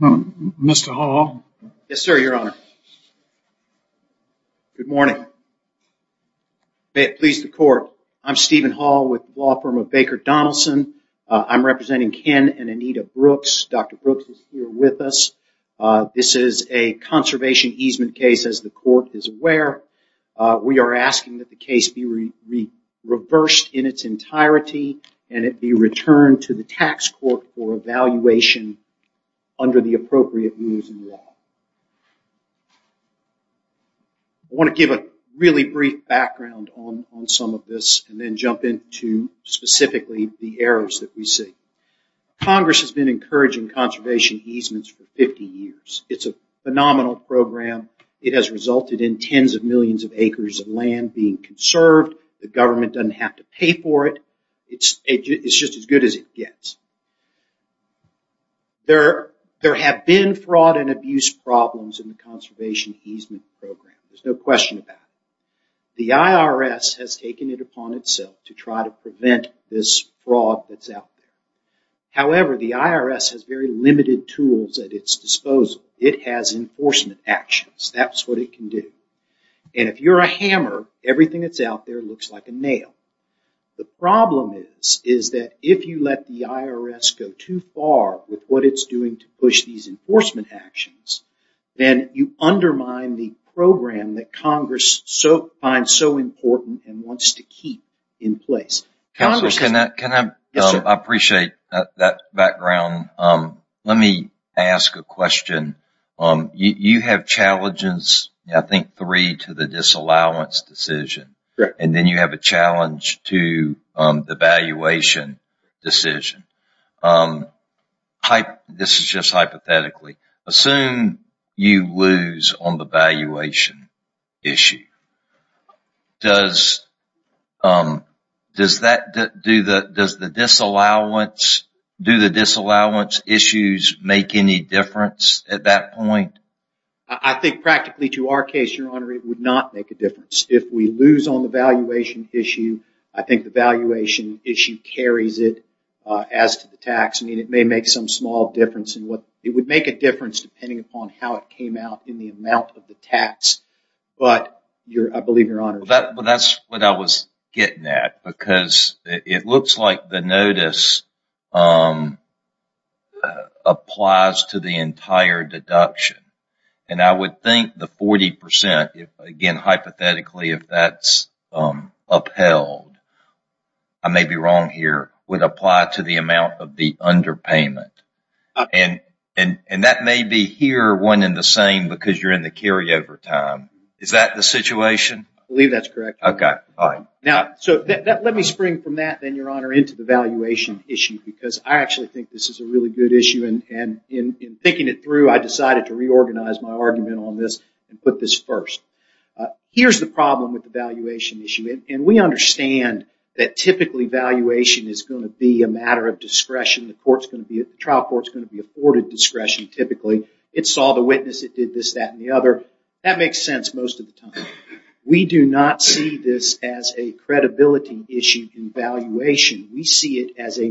Mr. Hall. Yes sir, your honor. Good morning. May it please the court. I'm Stephen Hall with law firm of Baker Donaldson. I'm representing Ken and Anita Brooks. Dr. Brooks is here with us. This is a conservation easement case as the court is aware. We are asking that the case be reversed in its entirety and it be returned to the tax court for evaluation under the appropriate rules and law. I want to give a really brief background on some of this and then jump into specifically the errors that we see. Congress has been encouraging conservation easements for 50 years. It's a phenomenal program. It has resulted in tens of millions of acres of land being conserved. The government doesn't have to pay for it. It's just as good as it gets. There have been fraud and abuse problems in the conservation easement program. There's no question about it. The IRS has taken it upon itself to try to prevent this fraud that's out there. However, the IRS has very limited tools at its disposal. It has enforcement actions. That's what it can do. And if you're a hammer, everything that's out there looks like a nail. The problem is that if you let the IRS go too far with what it's doing to push these enforcement actions, then you undermine the program that Congress finds so important and wants to keep in place. I appreciate that background. Let me ask a question. You have challenges, I think, three to the disallowance decision. And then you have a challenge to the valuation decision. This is just hypothetically. Assume you lose on the valuation issue. Do the disallowance issues make any difference at that point? I think practically to our case, your honor, it would not make a difference. If we lose on the valuation issue, I think the valuation issue carries it as to the tax. I mean, it may make some small difference in what it would make a difference depending upon how it came out in the amount of the tax. But I believe your honor... That's what I was getting at because it looks like the And I would think the 40%, again, hypothetically, if that's upheld, I may be wrong here, would apply to the amount of the underpayment. And that may be here one in the same because you're in the carryover time. Is that the situation? I believe that's correct. Okay. Now, let me spring from that then, your honor, into the valuation issue because I actually think this is a really good issue. And in thinking it through, I decided to reorganize my argument on this and put this first. Here's the problem with the valuation issue. And we understand that typically, valuation is going to be a matter of discretion. The trial court's going to be afforded discretion, typically. It saw the witness, it did this, that, and the other. That makes sense most of the time. We do not see this as a credibility issue in valuation. We see it as a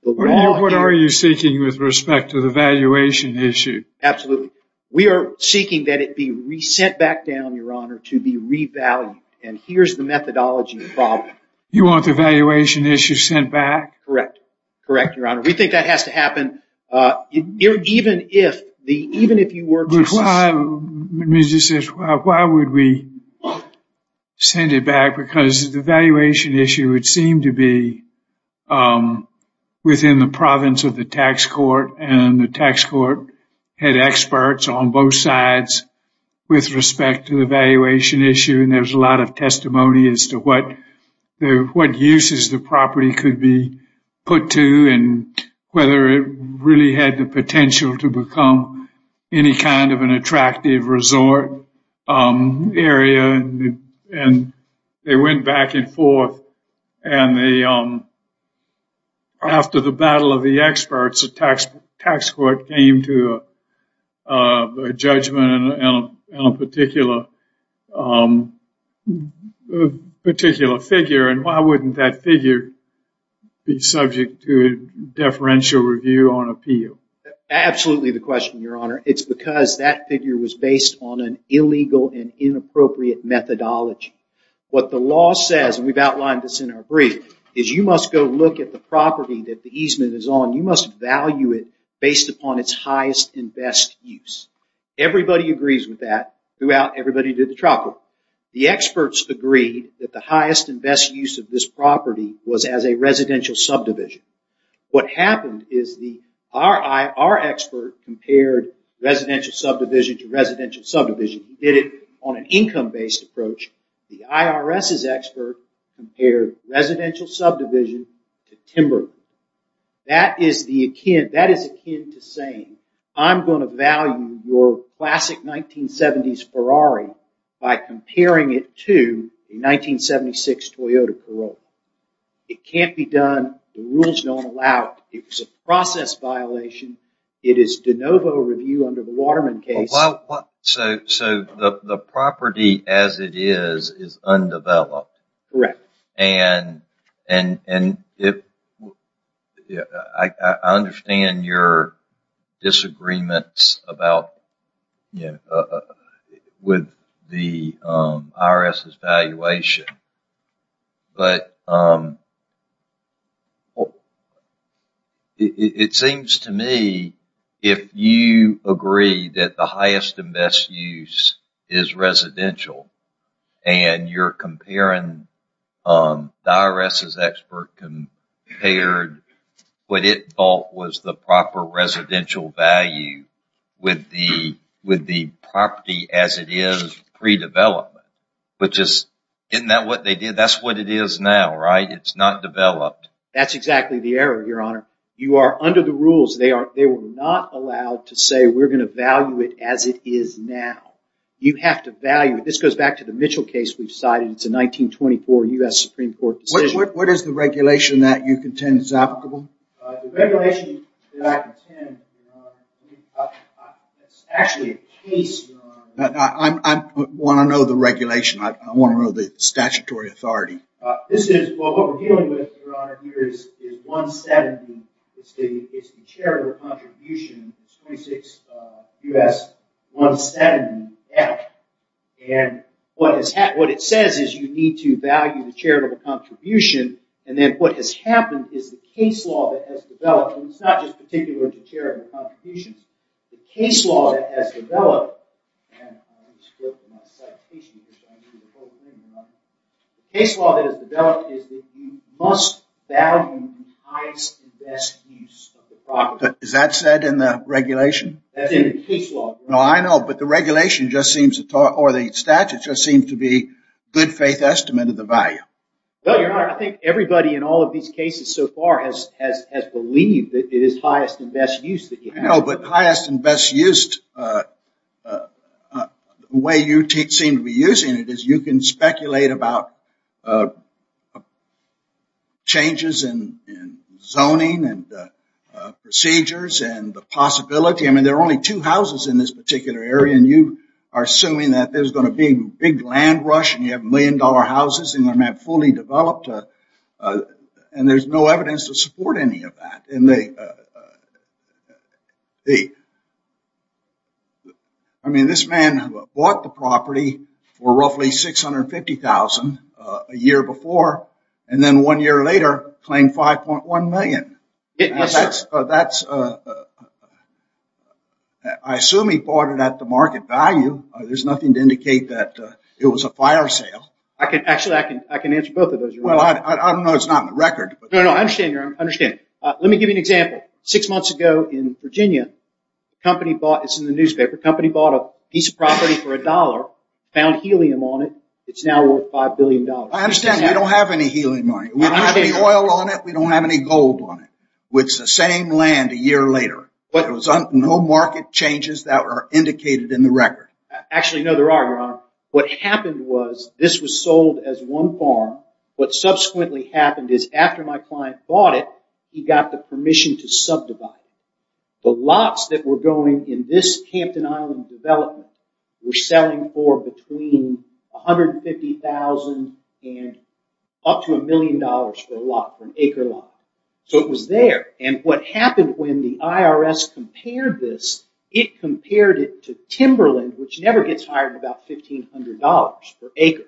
What are you seeking with respect to the valuation issue? Absolutely. We are seeking that it be re-sent back down, your honor, to be revalued. And here's the methodology involved. You want the valuation issue sent back? Correct. Correct, your honor. We think that has to happen. Even if the even if you were... Let me just say, why would we send it back? Because the valuation issue would seem to be within the province of the tax court. And the tax court had experts on both sides with respect to the valuation issue. And there's a lot of testimony as to what uses the property could be put to and whether it really had the potential to become any kind of an attractive resort area. And they went back and forth. And after the battle of the experts, the tax court came to a judgment on a particular figure. And why wouldn't that figure be subject to a deferential review on appeal? Absolutely the figure was based on an illegal and inappropriate methodology. What the law says, and we've outlined this in our brief, is you must go look at the property that the easement is on. You must value it based upon its highest and best use. Everybody agrees with that throughout. Everybody did the trial court. The experts agreed that the highest and best use of this property was as a residential subdivision. What happened is our expert compared residential subdivision to residential subdivision. He did it on an income-based approach. The IRS's expert compared residential subdivision to timber. That is akin to saying, I'm going to value your classic 1970s Ferrari by comparing it to a 1976 Toyota Corolla. It can't be done. The Novo review under the Waterman case... So the property as it is is undeveloped. Correct. And I understand your disagreements with the IRS's evaluation, but it seems to me if you agree that the highest and best use is residential and you're comparing... The IRS's expert compared what it thought was the proper residential value with the property as it is pre-development, which is, isn't that what they did? That's what it is now, right? It's not developed. That's exactly the error, your honor. You are under the rules. They were not allowed to say we're going to value it as it is now. You have to value it. This goes back to the Mitchell case we've cited. It's a 1924 U.S. Supreme Court decision. What is the regulation that you contend is applicable? I want to know the regulation. I want to know the statutory authority. This is what we're dealing with, your honor, here is 170. It's the charitable contribution. 26 U.S. 170. And what it says is you need to value the charitable contribution and then what has happened is the case law that has developed. It's not just particular to charitable contributions. The case law that has developed is that you must value the highest and best use of the property. Is that said in the regulation? That's in the case law. No, I know, but the regulation just seems to talk or the I think everybody in all of these cases so far has believed it is highest and best use that you know but highest and best used way you teach seem to be using it is you can speculate about changes in zoning and procedures and the possibility I mean there are only two houses in this particular area and you are assuming that there's going to be big land rush and you have million-dollar houses and they're not fully developed and there's no evidence to support any of that and they the I mean this man who bought the property for roughly six hundred fifty thousand a year before and then one year later claimed 5.1 million that's that's I assume he bought it at the market value there's nothing to actually I can answer both of those. I don't know, it's not in the record. I understand. Let me give you an example. Six months ago in Virginia, the company bought a piece of property for a dollar, found helium on it, it's now worth 5 billion dollars. I understand, we don't have any helium on it. We don't have any oil on it, we don't have any gold on it. It's the same land a year later. No market changes that are indicated in the record. Actually, no, there are, your honor. What happened was this was sold as one farm. What subsequently happened is after my client bought it, he got the permission to subdivide. The lots that were going in this Campton Island development were selling for between a hundred and fifty thousand and up to a million dollars for a lot, for an acre lot. So it was there and what happened when the IRS compared this, it compared it to Timberland, which never gets higher than about fifteen hundred dollars per acre.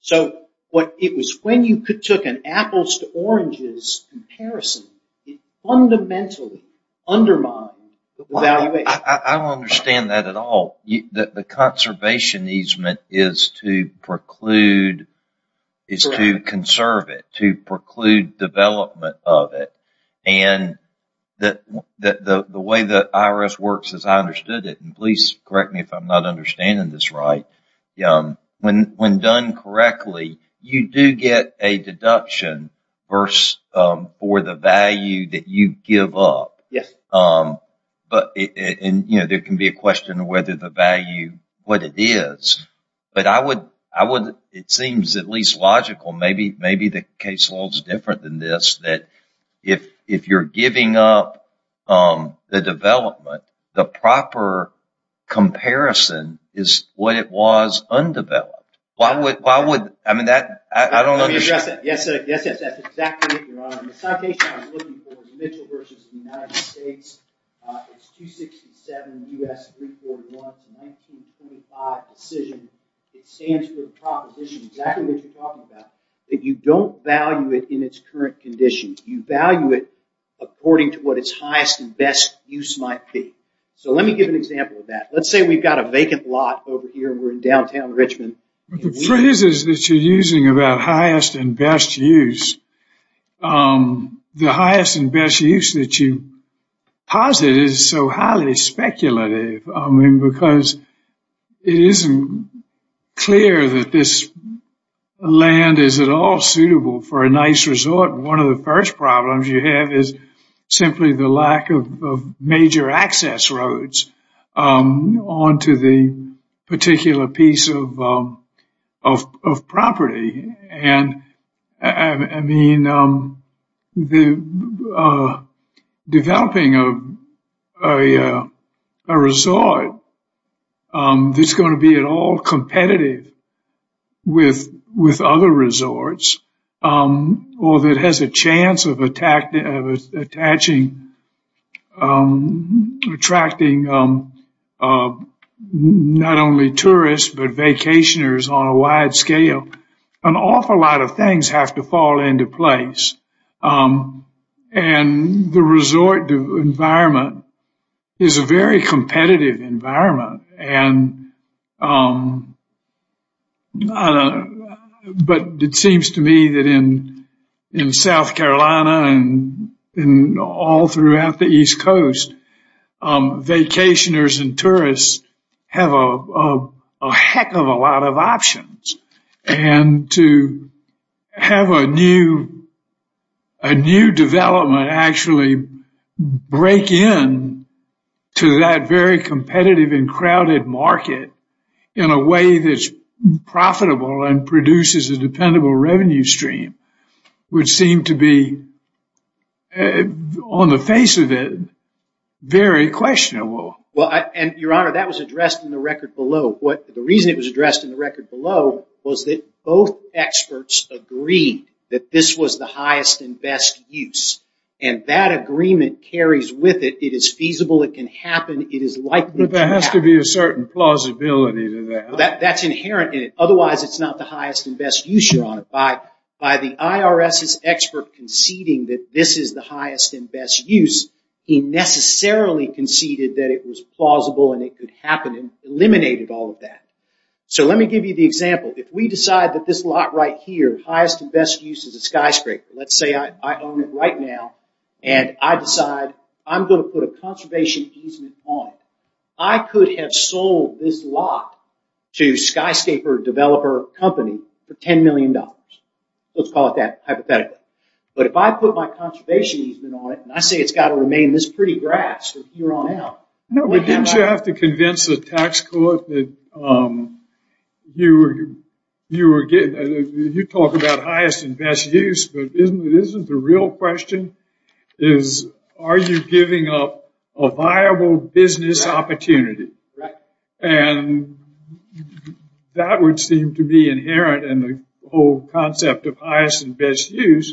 So what it was when you took an apples to oranges comparison, it fundamentally undermined the valuation. I don't understand that at all. The conservation easement is to preclude, is to conserve it, to preclude development of it. And the way the IRS works, as I understood it, and please correct me if I'm not understanding this right, when done correctly, you do get a deduction for the value that you give up. Yes. But, you know, there can be a question of whether the value, what it is, but I would, I would, it seems at least logical, maybe, maybe the caseload is different than this, that if you're giving up the development, the proper comparison is what it was undeveloped. Why would, why would, I mean, that I don't know. Yes, yes, yes, yes, that's exactly it, your honor. The citation I was looking for is Mitchell versus the United States. It's 267 U.S. 341 to 1925 decision. It stands for the proposition, exactly what you're talking about, that you don't value it in its current condition. You value it according to what its highest and best use might be. So let me give an example of that. Let's say we've got a vacant lot over here. We're in downtown Richmond. The phrases that you're using about highest and best use, the highest and best use that you posit is so highly speculative. I mean, because it isn't clear that this land is at all suitable for a nice resort. But one of the first problems you have is simply the lack of major access roads onto the particular piece of property. And I mean, the developing of a resort that's going to be at all competitive with other resorts, or that has a chance of attracting not only tourists, but vacationers on a wide scale, an awful lot of things have to fall into place. And the resort environment is a very competitive environment. But it seems to me that in South Carolina and all throughout the East Coast, vacationers and tourists have a heck of a lot of options. And to have a new development actually break in to that very competitive and crowded market in a way that's profitable and produces a dependable revenue stream would seem to be, on the face of it, very questionable. Well, and Your Honor, that was addressed in the record below. The reason it was addressed in the record below was that both experts agreed that this was the highest and best use. And that agreement carries with it, it is feasible, it can happen, it is likely to happen. But there has to be a certain plausibility to that. That's inherent in it. Otherwise, it's not the highest and best use, Your Honor. By the IRS's expert conceding that this is the highest and best use, he necessarily conceded that it was plausible and it could happen and eliminated all of that. So let me give you the example. If we decide that this lot right here, highest and best use is a skyscraper. Let's say I own it right now and I decide I'm going to put a conservation easement on it. I could have sold this lot to skyscraper developer company for $10 million. Let's call it that hypothetically. But if I put my conservation easement on it and I say it's got to remain this pretty grass from here on out. No, but didn't you have to convince the tax court that you talk about highest and best use, but isn't the real question is, are you giving up a viable business opportunity? And that would seem to be inherent in the whole concept of highest and best use.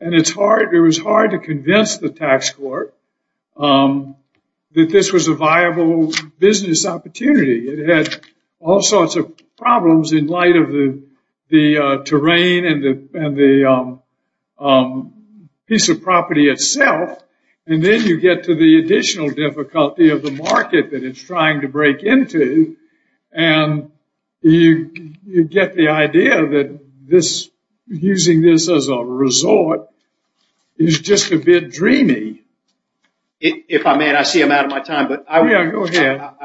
And it's hard. It was hard to convince the tax court that this was a viable business opportunity. It had all sorts of problems in light of the terrain and the piece of property itself. And then you get to the additional difficulty of the market that it's trying to break into. And you get the idea that using this as a resort is just a bit dreamy. If I may, I see I'm out of my time, but I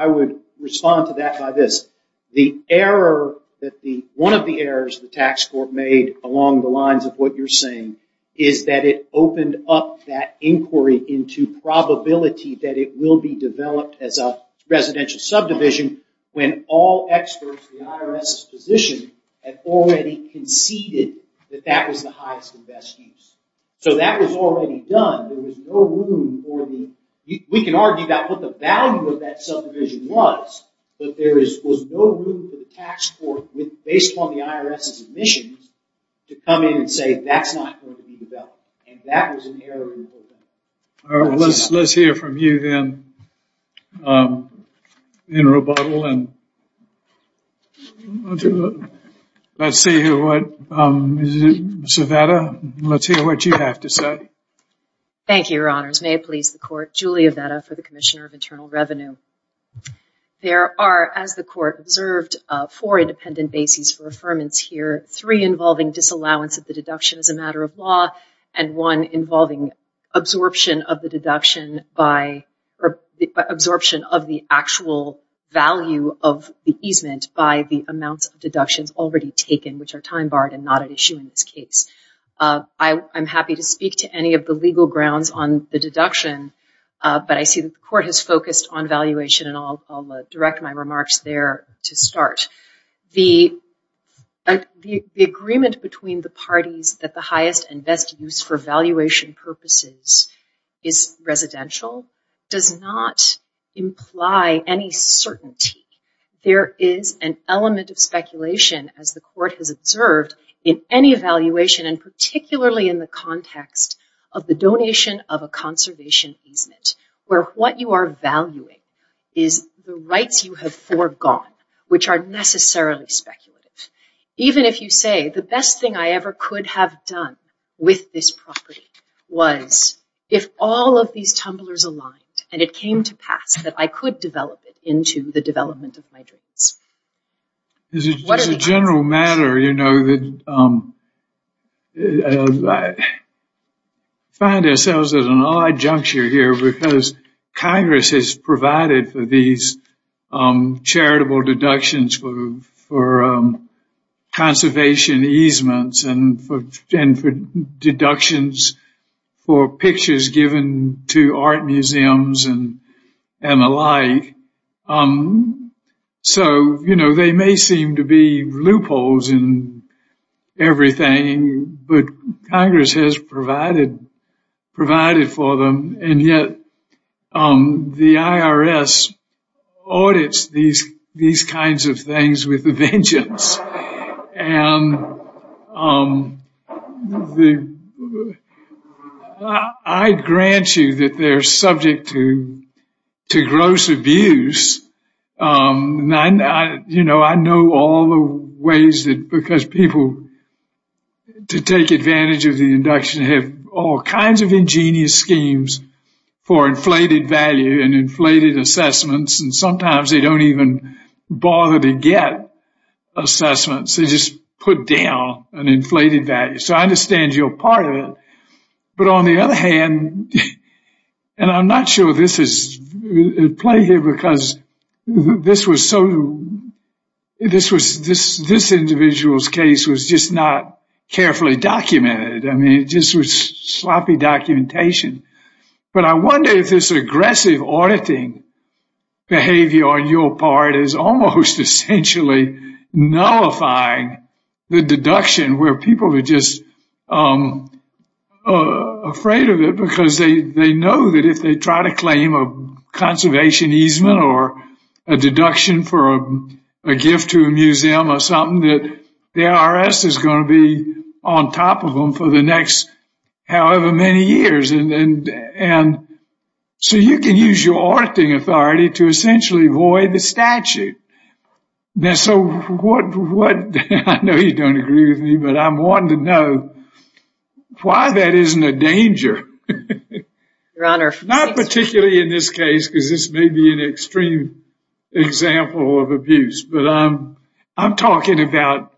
would respond to that by this. One of the errors the tax court made along the lines of what you're saying is that it opened up that inquiry into probability that it will be developed as a residential subdivision when all experts in the IRS position had already conceded that that was the highest and best use. So that was already done. There was no room for the, we can argue about what the value of that subdivision was, but there was no room for the tax court based on the IRS's admissions to come in and say that's not going to be developed. And that was an error in the whole thing. Let's hear from you then, in rebuttal. Let's hear what you have to say. by absorption of the actual value of the easement by the amounts of deductions already taken, which are time barred and not at issue in this case. I'm happy to speak to any of the legal grounds on the deduction, but I see that the court has focused on valuation and I'll direct my remarks there to start. The agreement between the parties that the highest and best use for valuation purposes is residential does not imply any certainty. There is an element of speculation, as the court has observed, in any evaluation and particularly in the context of the donation of a conservation easement, where what you are valuing is the rights you have foregone, which are necessarily speculative. Even if you say the best thing I ever could have done with this property was if all of these tumblers aligned and it came to pass that I could develop it into the development of my dreams. As a general matter, we find ourselves at an odd juncture here because Congress has provided for these charitable deductions for conservation easements and for deductions for pictures given to art museums and the like. They may seem to be loopholes in everything, but Congress has provided for them and yet the IRS audits these kinds of things with a vengeance. I grant you that they're subject to gross abuse. I know all the ways that because people to take advantage of the induction have all kinds of ingenious schemes for inflated value and inflated assessments and sometimes they don't even bother to get assessments. They just put down an inflated value, so I understand you're part of it, but on the other hand, and I'm not sure this is a play here because this individual's case was just not carefully documented. I mean, it just was sloppy documentation, but I wonder if this aggressive auditing behavior on your part is almost essentially nullifying the deduction where people are just afraid of it because they know that if they try to claim a conservation easement or a deduction for a gift to a museum or something, the IRS is going to be on top of them for the next however many years and so you can use your auditing authority to essentially void the statute. I know you don't agree with me, but I'm wanting to know why that isn't a danger, not particularly in this case because this may be an extreme example of abuse, but I'm talking about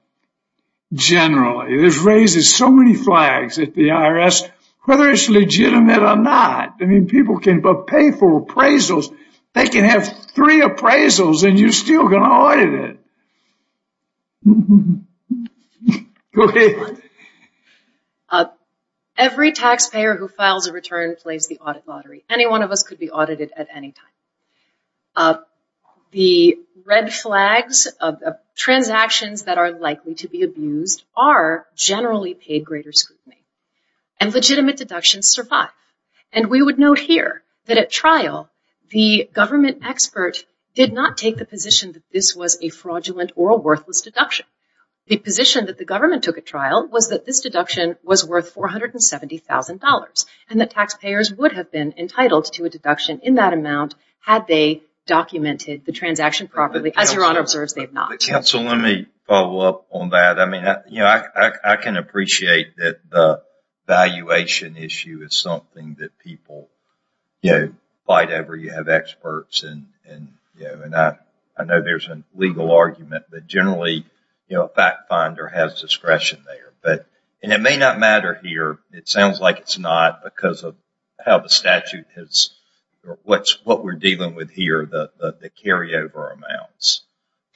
generally. This raises so many flags at the IRS, whether it's legitimate or not. I mean, people can pay for appraisals. They can have three appraisals and you're still going to audit it. Go ahead. Every taxpayer who files a return plays the audit lottery. Any one of us could be audited at any time. The red flags of transactions that are likely to be abused are generally paid greater scrutiny and legitimate deductions survive. We would note here that at trial, the government expert did not take the position that this was a fraudulent or a worthless deduction. The position that the government took at trial was that this deduction was worth $470,000 and that taxpayers would have been entitled to a deduction in that amount had they documented the transaction properly. As Your Honor observes, they have not. Counsel, let me follow up on that. I can appreciate that the valuation issue is something that people fight over. You have experts and I know there's a legal argument, but generally a fact finder has discretion there. It may not matter here. It sounds like it's not because of how the statute is or what we're dealing with here, the carryover amounts.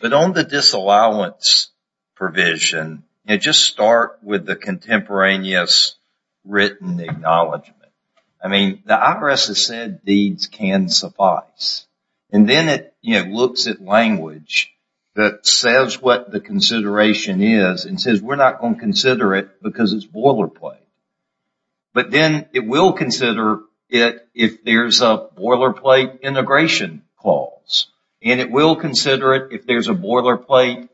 But on the disallowance provision, just start with the contemporaneous written acknowledgment. The IRS has said these can suffice. And then it looks at language that says what the consideration is and says we're not going to consider it because it's boilerplate. But then it will consider it if there's a boilerplate integration clause. And it will consider it if there's a boilerplate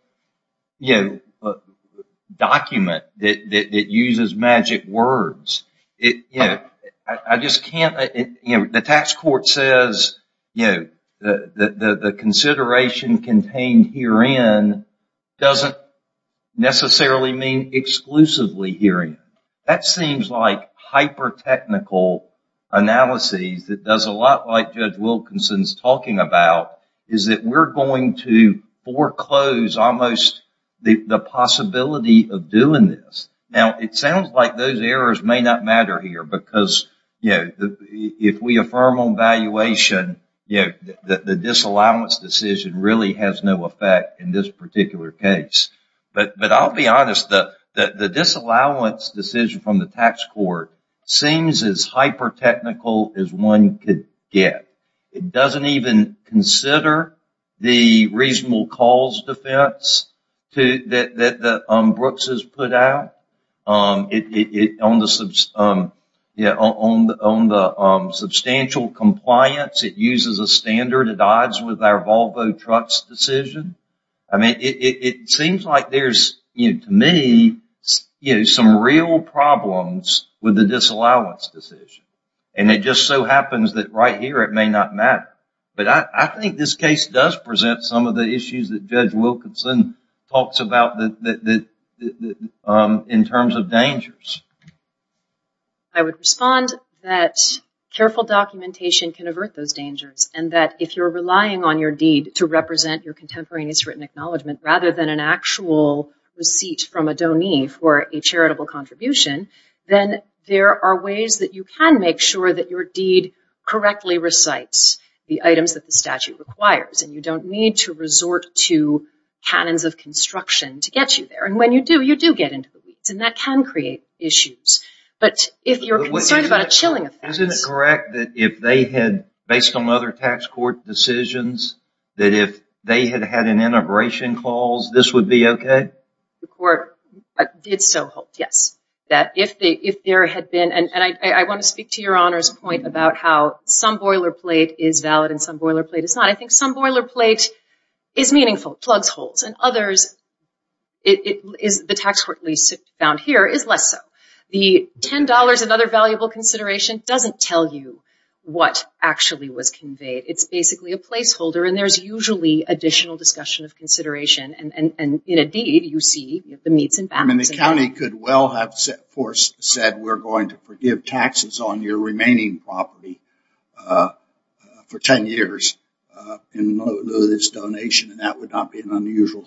document that uses magic words. The tax court says the consideration contained herein doesn't necessarily mean exclusively herein. That seems like hyper-technical analysis that does a lot like Judge Wilkinson's talking about. We're going to foreclose almost the possibility of doing this. It sounds like those errors may not matter here because if we affirm on valuation, the disallowance decision really has no effect in this particular case. But I'll be honest. The disallowance decision from the tax court seems as hyper-technical as one could get. It doesn't even consider the reasonable cause defense that Brooks has put out. On the substantial compliance, it uses a standard at odds with our Volvo trucks decision. It seems like there's, to me, some real problems with the disallowance decision. And it just so happens that right here it may not matter. But I think this case does present some of the issues that Judge Wilkinson talks about in terms of dangers. I would respond that careful documentation can avert those dangers. And that if you're relying on your deed to represent your contemporaneous written acknowledgement rather than an actual receipt from a donee for a charitable contribution, then there are ways that you can make sure that your deed correctly recites the items that the statute requires. And you don't need to resort to canons of construction to get you there. And when you do, you do get into the weeds. And that can create issues. But if you're concerned about a chilling effect... Isn't it correct that if they had, based on other tax court decisions, that if they had had an integration clause, this would be okay? The court did so hope, yes. That if there had been... And I want to speak to your Honor's point about how some boilerplate is valid and some boilerplate is not. I think some boilerplate is meaningful. And others, the tax court lease found here is less so. The $10 and other valuable consideration doesn't tell you what actually was conveyed. It's basically a placeholder. And there's usually additional discussion of consideration. And in a deed, you see the meets and backs. And the county could well have said, we're going to forgive taxes on your remaining property for 10 years in lieu of this donation. And that would not be unusual.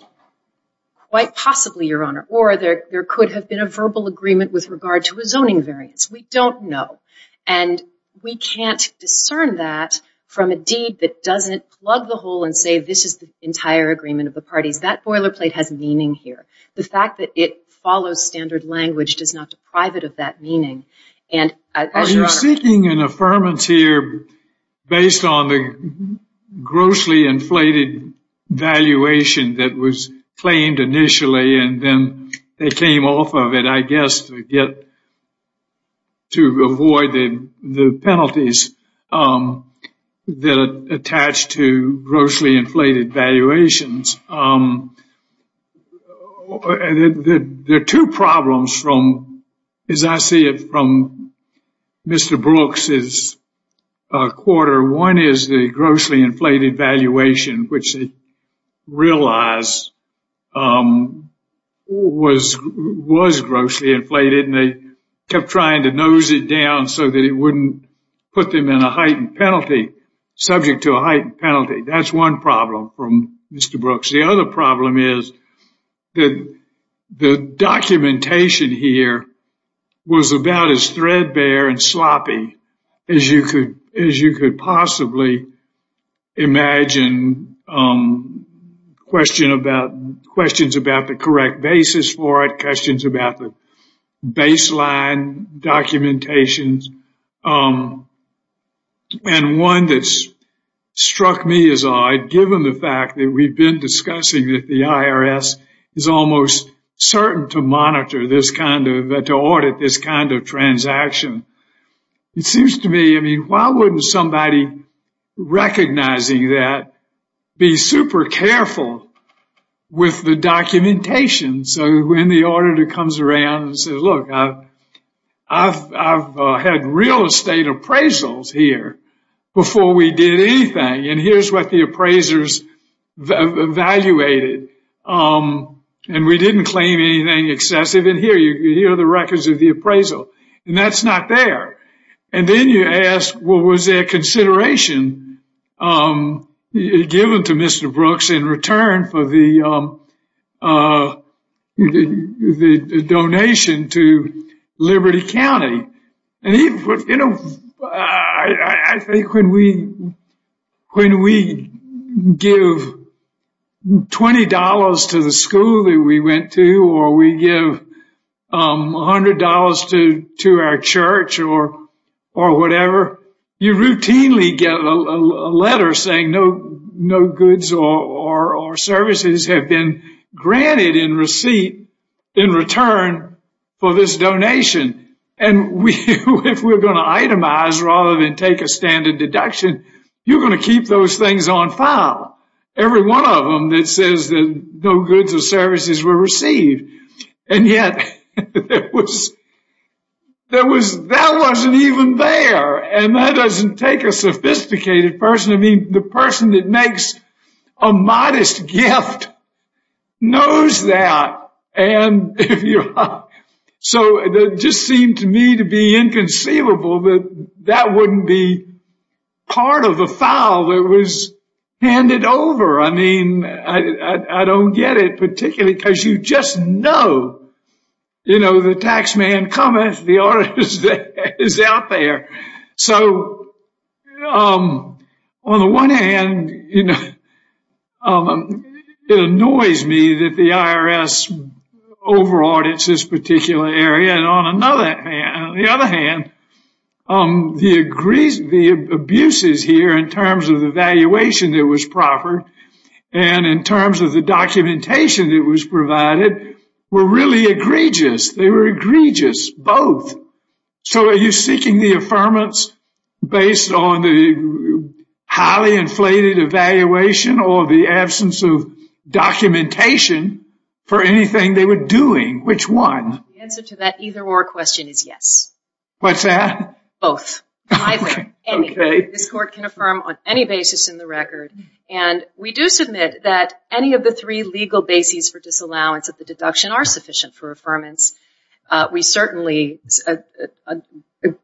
Quite possibly, your Honor. Or there could have been a verbal agreement with regard to a zoning variance. We don't know. And we can't discern that from a deed that doesn't plug the hole and say this is the entire agreement of the parties. That boilerplate has meaning here. The fact that it follows standard language does not deprive it of that meaning. Are you seeking an affirmance here based on the grossly inflated valuation that was claimed initially and then they came off of it, I guess, to avoid the penalties that attach to grossly inflated valuations? There are two problems, as I see it, from Mr. Brooks's quarter. One is the grossly inflated valuation, which they realize was grossly inflated. And they kept trying to nose it down so that it wouldn't put them in a heightened penalty, subject to a heightened penalty. That's one problem from Mr. Brooks. The other problem is that the documentation here was about as threadbare and sloppy as you could possibly imagine. Questions about the correct basis for it, questions about the baseline documentations. And one that struck me as odd, given the fact that we've been discussing that the IRS is almost certain to audit this kind of transaction. It seems to me, I mean, why wouldn't somebody recognizing that be super careful with the documentation? So when the auditor comes around and says, look, I've had real estate appraisals here before we did anything. And here's what the appraisers evaluated. And we didn't claim anything excessive. And here are the records of the appraisal. And that's not there. And then you ask, well, was there consideration given to Mr. Brooks in return for the donation to Liberty County? You know, I think when we give $20 to the school that we went to or we give $100 to our church or whatever, you routinely get a letter saying no goods or services have been granted in receipt in return for this donation. And if we're going to itemize rather than take a standard deduction, you're going to keep those things on file, every one of them that says that no goods or services were received. And yet, that wasn't even there. And that doesn't take a sophisticated person. I mean, the person that makes a modest gift knows that. And so it just seemed to me to be inconceivable that that wouldn't be part of the file that was handed over. I mean, I don't get it particularly because you just know, you know, the tax man comments, the auditor is out there. So, on the one hand, it annoys me that the IRS over audits this particular area. And on the other hand, the abuses here in terms of the valuation that was proffered and in terms of the documentation that was provided were really egregious. They were egregious, both. So, are you seeking the affirmance based on the highly inflated evaluation or the absence of documentation for anything they were doing? Which one? The answer to that either or question is yes. What's that? Both. Either. Okay. This court can affirm on any basis in the record. And we do submit that any of the three legal bases for disallowance of the deduction are sufficient for affirmance. We certainly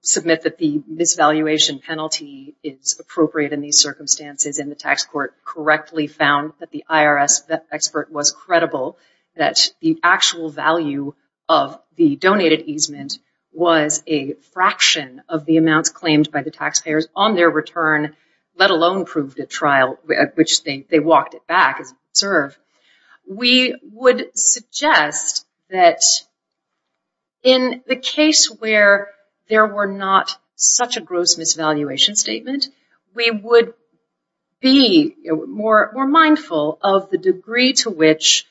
submit that the misvaluation penalty is appropriate in these circumstances. And the tax court correctly found that the IRS expert was credible that the actual value of the donated easement was a fraction of the amounts claimed by the taxpayers on their return, let alone proved at trial, which they walked it back as we observe. We would suggest that in the case where there were not such a gross misvaluation statement, we would be more mindful of the degree to which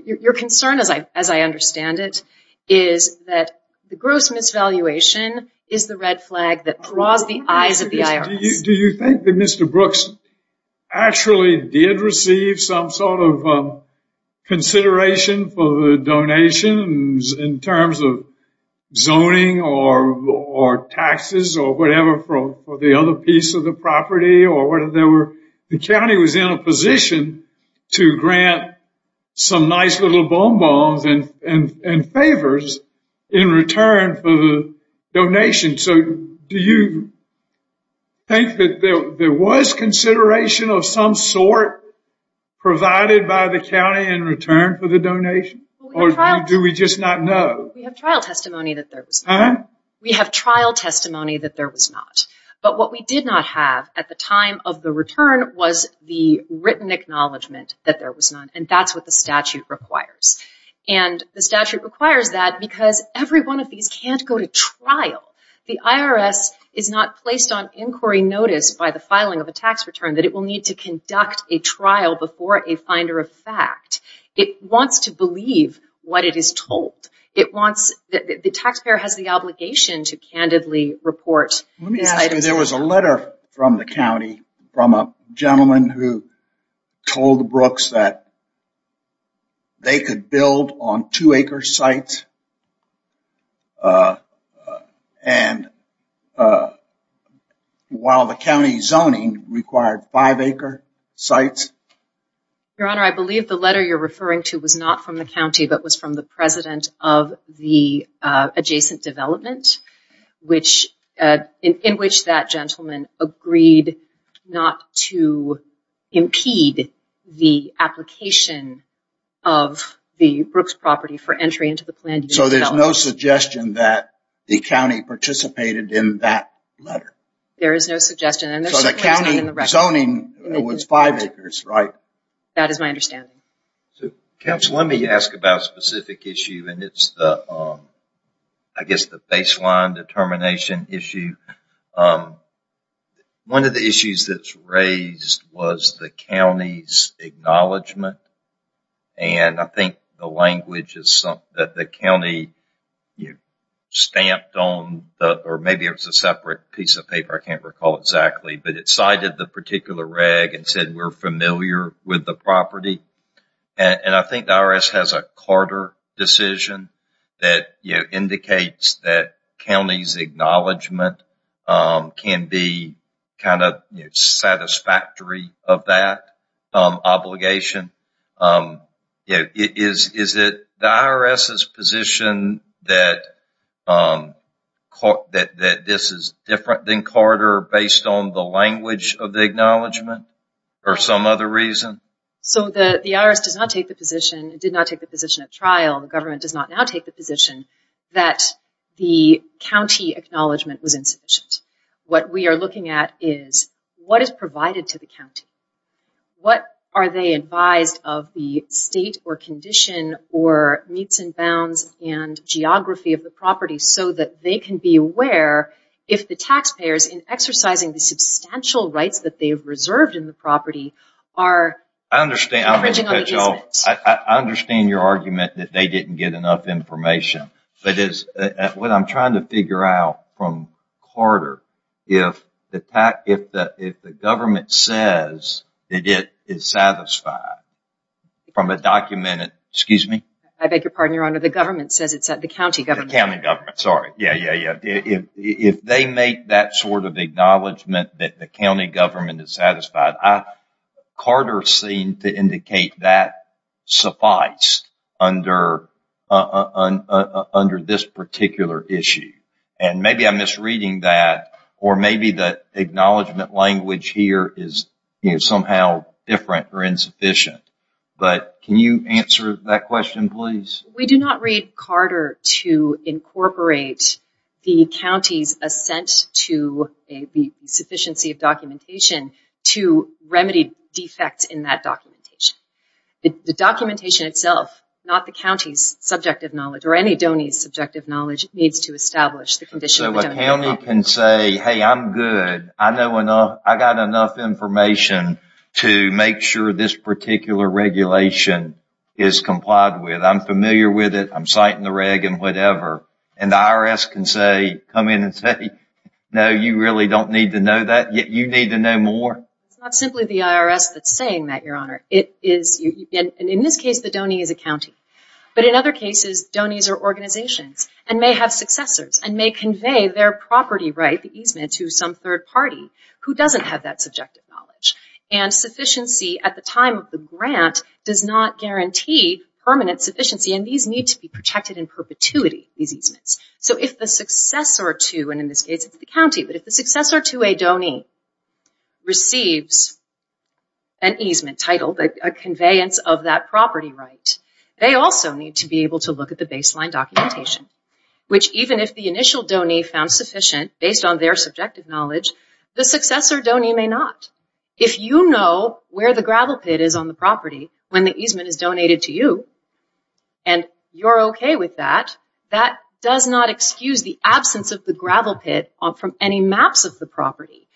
your concern, as I understand it, is that the gross misvaluation is the red flag that draws the eyes of the IRS. Do you think that Mr. Brooks actually did receive some sort of consideration for the donations in terms of zoning or taxes or whatever for the other piece of the property? The county was in a position to grant some nice little bonbons and favors in return for the donation. So do you think that there was consideration of some sort provided by the county in return for the donation? Or do we just not know? We have trial testimony that there was none. We have trial testimony that there was not. But what we did not have at the time of the return was the written acknowledgment that there was none. And that's what the statute requires. And the statute requires that because every one of these can't go to trial. The IRS is not placed on inquiry notice by the filing of a tax return that it will need to conduct a trial before a finder of fact. It wants to believe what it is told. The taxpayer has the obligation to candidly report these items. There was a letter from the county from a gentleman who told Brooks that they could build on two acre sites while the county zoning required five acre sites. Your Honor, I believe the letter you're referring to was not from the county, but was from the president of the adjacent development, in which that gentleman agreed not to impede the application of the Brooks property for entry into the plan. So there's no suggestion that the county participated in that letter? There is no suggestion. So the county zoning was five acres, right? That is my understanding. Counsel, let me ask about a specific issue, and it's the baseline determination issue. One of the issues that's raised was the county's acknowledgment. And I think the language is that the county stamped on, or maybe it was a separate piece of paper, I can't recall exactly, but it cited the particular reg and said we're familiar with the property. And I think the IRS has a Carter decision that indicates that county's acknowledgment can be kind of satisfactory of that obligation. Is it the IRS's position that this is different than Carter based on the language of the acknowledgment, or some other reason? So the IRS did not take the position at trial, the government does not now take the position, that the county acknowledgment was insufficient. What we are looking at is what is provided to the county? What are they advised of the state or condition or meets and bounds and geography of the property so that they can be aware if the taxpayers in exercising the substantial rights that they have reserved in the property are... I understand your argument that they didn't get enough information. But what I'm trying to figure out from Carter, if the government says that it is satisfied from a documented... Excuse me? I beg your pardon, Your Honor. The county government, sorry. If they make that sort of acknowledgment that the county government is satisfied, Carter seemed to indicate that suffice under this particular issue. And maybe I'm misreading that, or maybe the acknowledgment language here is somehow different or insufficient. But can you answer that question, please? We do not read Carter to incorporate the county's assent to the sufficiency of documentation to remedy defects in that documentation. The documentation itself, not the county's subjective knowledge, or any of the county's subjective knowledge, needs to establish the condition... So the county can say, hey, I'm good. I got enough information to make sure this particular regulation is complied with. I'm familiar with it. I'm citing the reg and whatever. And the IRS can say, come in and say, no, you really don't need to know that. You need to know more. It's not simply the IRS that's saying that, Your Honor. In this case, the donee is a county. But in other cases, donees are organizations and may have successors and may convey their property right, the easement, to some third party who doesn't have that subjective knowledge. And sufficiency at the time of the grant does not guarantee permanent sufficiency. And these need to be protected in perpetuity, these easements. So if the successor to, and in this case it's the county, but if the successor to a donee receives an easement title, a conveyance of that property right, they also need to be able to look at the baseline documentation, which even if the initial donee found sufficient based on their subjective knowledge, the successor donee may not. If you know where the gravel pit is on the property when the easement is donated to you and you're okay with that, that does not excuse the absence of the gravel pit from any maps of the property,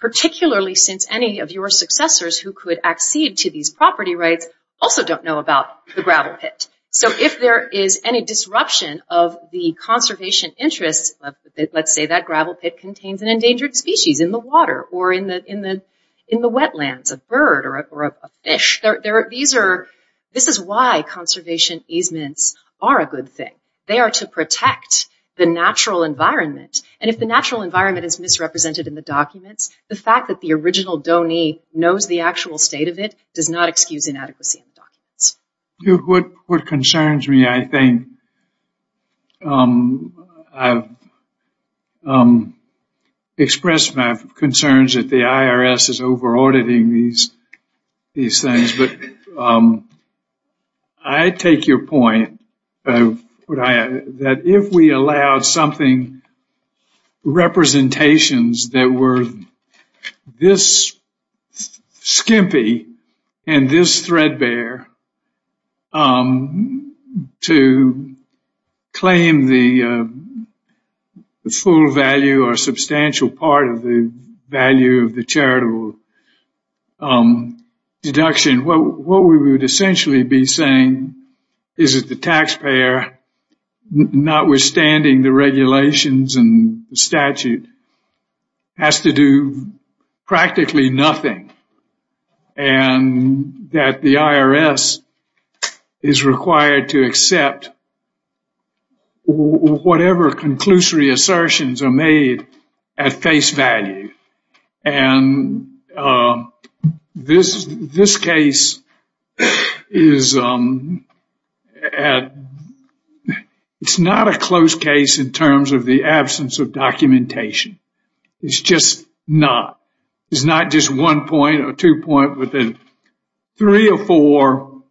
particularly since any of your successors who could accede to these property rights also don't know about the gravel pit. So if there is any disruption of the conservation interests, let's say that gravel pit contains an endangered species in the water or in the wetlands, a bird or a fish, this is why conservation easements are a good thing. They are to protect the natural environment. And if the natural environment is misrepresented in the documents, the fact that the original donee knows the actual state of it does not excuse inadequacy in the documents. What concerns me, I think, I've expressed my concerns that the IRS is over auditing these things, but I take your point that if we allowed something, representations that were this skimpy and this threadbare to claim the full value or substantial part of the value of the charitable deduction, what we would essentially be saying is that the taxpayer, notwithstanding the regulations and statute, has to do practically nothing and that the IRS is required to accept whatever conclusory assertions are made at face value. And this case is not a close case in terms of the absence of documentation. It's just not. It's not just one point or two point with three or four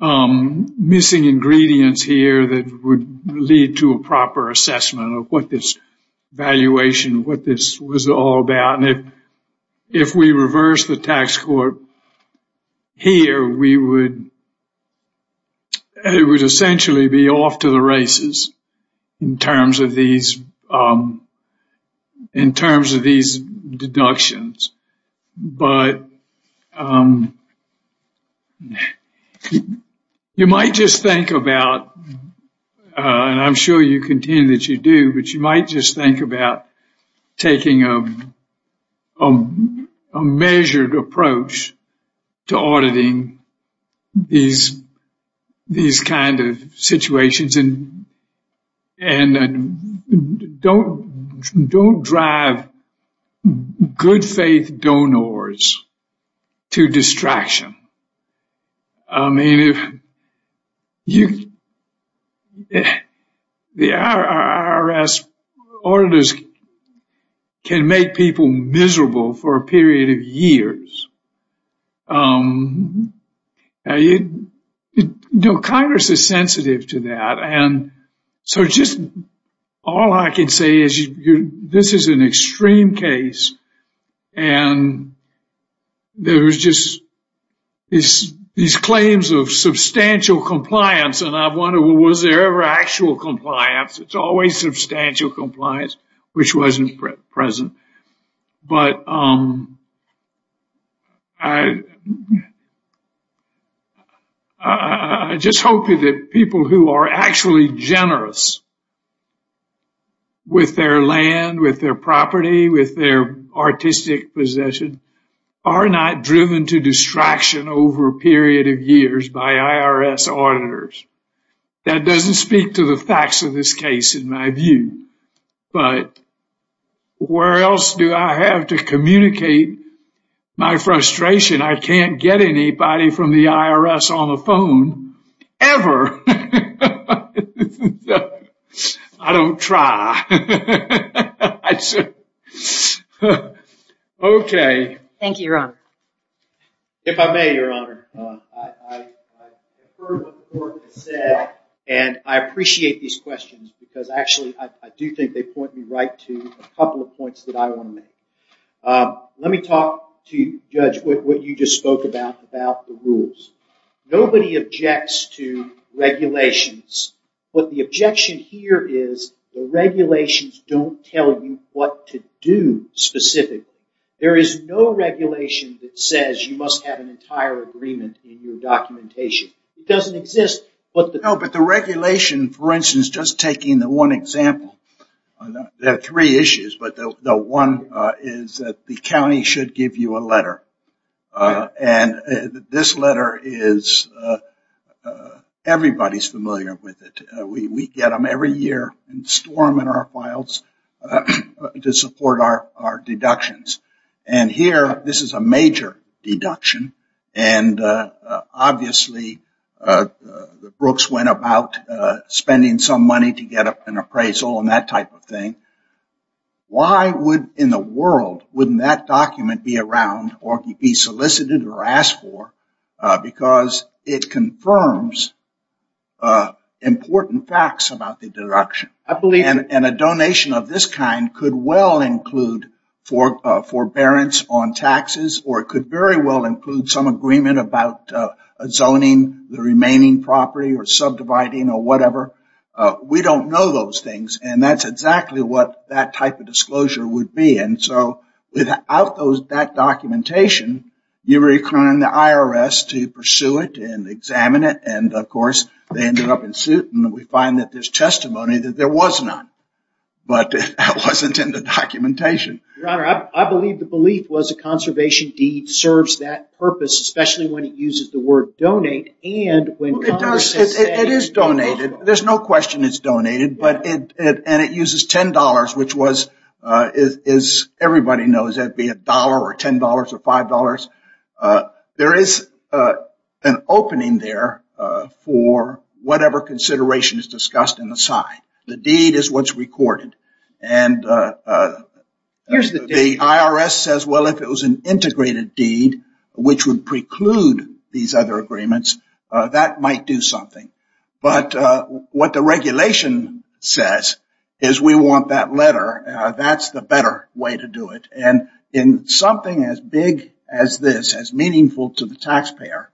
missing ingredients here that would lead to a proper assessment of what this valuation, what this was all about. And if we reverse the tax court here, we would essentially be off to the races in terms of these deductions. But you might just think about and I'm sure you contend that you do, but you might just think about taking a measured approach to auditing these these kind of situations. And don't drive good faith donors to distraction. The IRS auditors can make people miserable for a period of years. You know, Congress is sensitive to that. And so just all I can say is this is an extreme case. And there was just these claims of substantial compliance. And I wonder, was there ever actual compliance? It's always substantial compliance, which wasn't present. But I just hope that people who are actually generous with their land, with their property, with their artistic possession, are not driven to distraction over a period of years by IRS auditors. That doesn't speak to the facts of this case in my view. But where else do I have to communicate my frustration? I can't get anybody from the IRS on the phone ever. I don't try. OK. Thank you, Your Honor. If I may, Your Honor, I heard what the court said. And I appreciate these questions. Because actually, I do think they point me right to a couple of points that I want to make. Let me talk to you, Judge, what you just spoke about, about the rules. Nobody objects to regulations. But the objection here is the regulations don't tell you what to do specifically. There is no regulation that says you must have an entire agreement in your documentation. It doesn't exist. No, but the regulation, for instance, just taking the one example, there are three issues. But the one is that the county should give you a letter. And this letter is everybody's familiar with it. We get them every year and store them in our files to support our deductions. And here, this is a major deduction. And obviously, Brooks went about spending some money to get an appraisal and that type of thing. Why in the world wouldn't that document be around or be solicited or asked for? Because it confirms important facts about the deduction. And a donation of this kind could well include forbearance on taxes. Or it could very well include some agreement about zoning the remaining property or subdividing or whatever. We don't know those things. And that's exactly what that type of disclosure would be. And so without that documentation, you're requiring the IRS to pursue it and examine it. And, of course, they ended up in suit. And we find that there's testimony that there was none. But that wasn't in the documentation. Your Honor, I believe the belief was a conservation deed serves that purpose, especially when it uses the word donate. It is donated. There's no question it's donated. And it uses $10, which was, as everybody knows, that would be $1 or $10 or $5. There is an opening there for whatever consideration is discussed in the side. The deed is what's recorded. And the IRS says, well, if it was an integrated deed, which would preclude these other agreements, that might do something. But what the regulation says is we want that letter. That's the better way to do it. And in something as big as this, as meaningful to the taxpayer,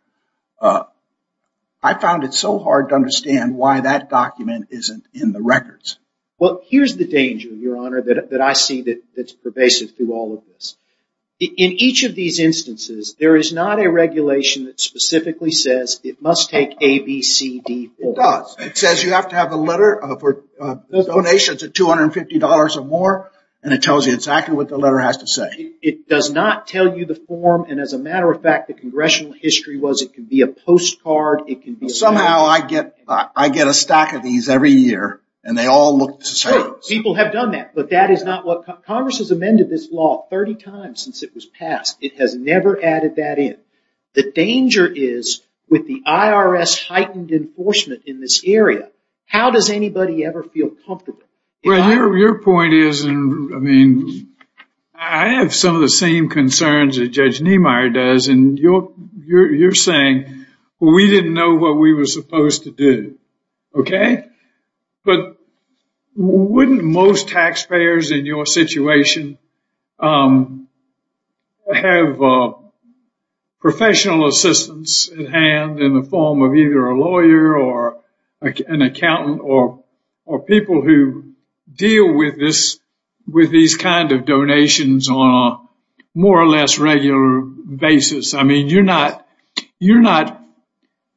I found it so hard to understand why that document isn't in the records. Well, here's the danger, Your Honor, that I see that's pervasive through all of this. In each of these instances, there is not a regulation that specifically says it must take A, B, C, D, or. It does. It says you have to have a letter for donations of $250 or more. And it tells you exactly what the letter has to say. It does not tell you the form. And as a matter of fact, the congressional history was it could be a postcard. Somehow I get a stack of these every year. And they all look the same. People have done that. But that is not what Congress has amended this law 30 times since it was passed. It has never added that in. The danger is with the IRS heightened enforcement in this area, how does anybody ever feel comfortable? Well, your point is, I mean, I have some of the same concerns that Judge Niemeyer does. And you're saying, well, we didn't know what we were supposed to do, okay? But wouldn't most taxpayers in your situation have professional assistance at hand in the form of either a lawyer or an accountant or people who deal with these kind of donations on a more or less regular basis? I mean, you're not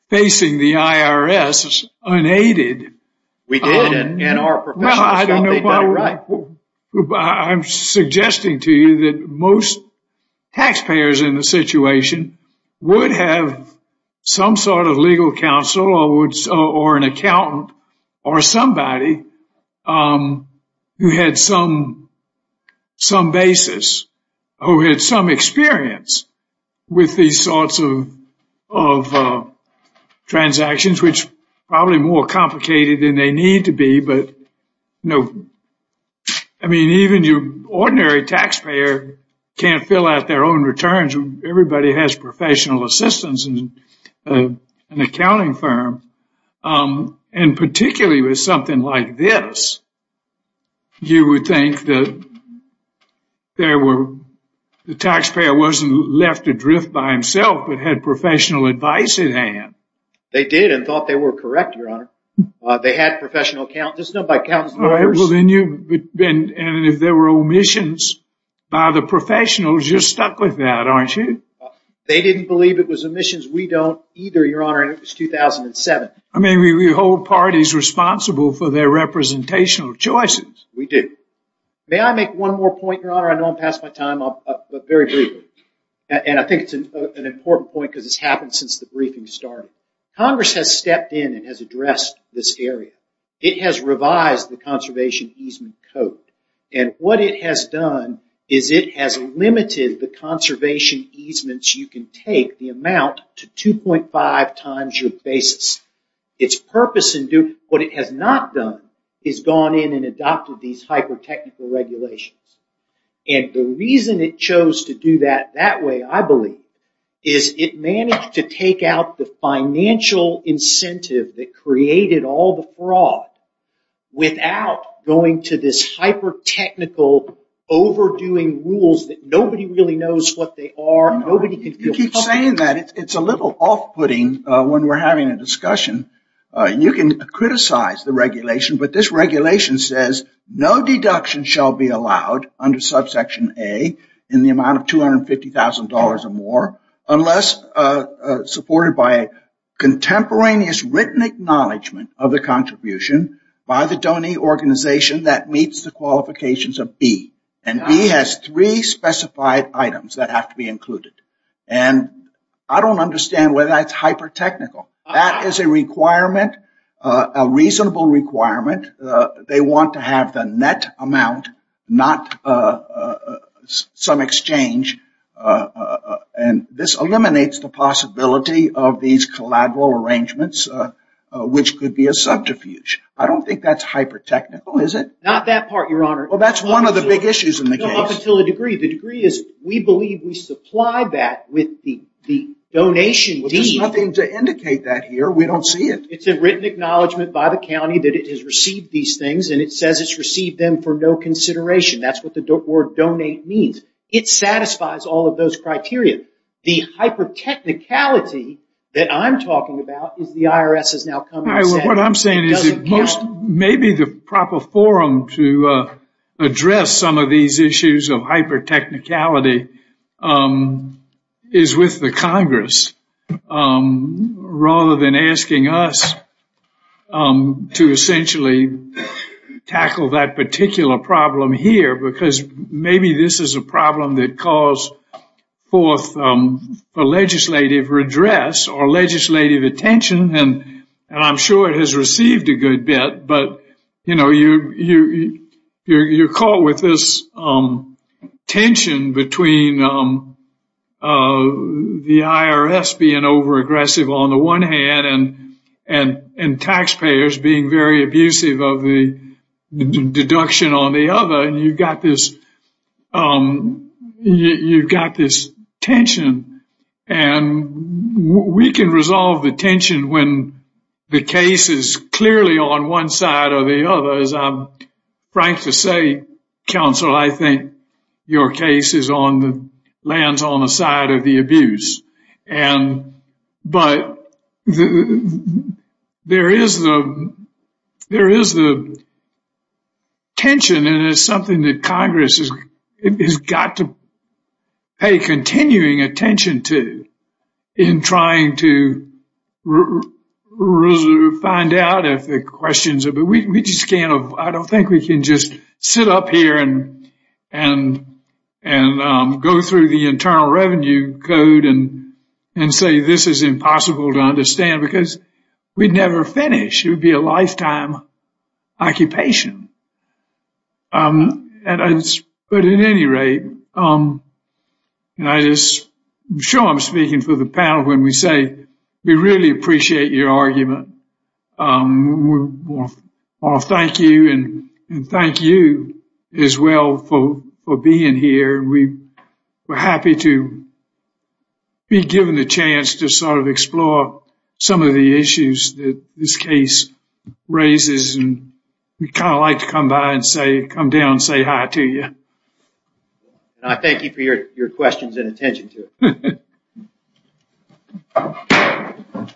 facing the IRS unaided. We did. And our professionals felt they'd done it right. I'm suggesting to you that most taxpayers in the situation would have some sort of legal counsel or an accountant or somebody who had some basis, who had some experience with these sorts of transactions, which are probably more complicated than they need to be. But, you know, I mean, even your ordinary taxpayer can't fill out their own returns. Everybody has professional assistance in an accounting firm. And particularly with something like this, you would think that the taxpayer wasn't left adrift by himself, but had professional advice at hand. They did and thought they were correct, Your Honor. They had professional counsel. And if there were omissions by the professionals, you're stuck with that, aren't you? They didn't believe it was omissions. We don't either, Your Honor, and it was 2007. I mean, we hold parties responsible for their representational choices. We do. May I make one more point, Your Honor? I know I'm past my time, but very briefly. And I think it's an important point because it's happened since the briefing started. Congress has stepped in and has addressed this area. It has revised the conservation easement code. And what it has done is it has limited the conservation easements you can take, the amount, to 2.5 times your basis. Its purpose in doing what it has not done is gone in and adopted these hyper-technical regulations. And the reason it chose to do that that way, I believe, is it managed to take out the financial incentive that created all the fraud without going to this hyper-technical, overdoing rules that nobody really knows what they are. You keep saying that. It's a little off-putting when we're having a discussion. You can criticize the regulation, but this regulation says, no deduction shall be allowed under subsection A in the amount of $250,000 or more unless supported by a contemporaneous written acknowledgement of the contribution by the donor organization that meets the qualifications of B. And B has three specified items that have to be included. And I don't understand why that's hyper-technical. That is a requirement, a reasonable requirement. They want to have the net amount, not some exchange. And this eliminates the possibility of these collateral arrangements, which could be a subterfuge. I don't think that's hyper-technical, is it? Not that part, Your Honor. Well, that's one of the big issues in the case. No, up until a degree. The degree is, we believe we supply that with the donation deed. There's nothing to indicate that here. We don't see it. It's a written acknowledgement by the county that it has received these things, and it says it's received them for no consideration. That's what the word donate means. It satisfies all of those criteria. The hyper-technicality that I'm talking about is the IRS has now come and said it doesn't count. What I'm saying is maybe the proper forum to address some of these issues of hyper-technicality is with the Congress, rather than asking us to essentially tackle that particular problem here, because maybe this is a problem that calls forth a legislative redress or legislative attention, and I'm sure it has received a good bit. But, you know, you're caught with this tension between the IRS being over-aggressive on the one hand and taxpayers being very abusive of the deduction on the other, and you've got this tension. And we can resolve the tension when the case is clearly on one side or the other. As I'm frank to say, counsel, I think your case lands on the side of the abuse. But there is the tension, and it's something that Congress has got to pay continuing attention to in trying to find out if the questions are. I don't think we can just sit up here and go through the Internal Revenue Code and say this is impossible to understand because we'd never finish. It would be a lifetime occupation. But at any rate, I'm sure I'm speaking for the panel when we say we really appreciate your argument. We want to thank you, and thank you as well for being here. We're happy to be given the chance to sort of explore some of the issues that this case raises, and we'd kind of like to come down and say hi to you. And I thank you for your questions and attention to it.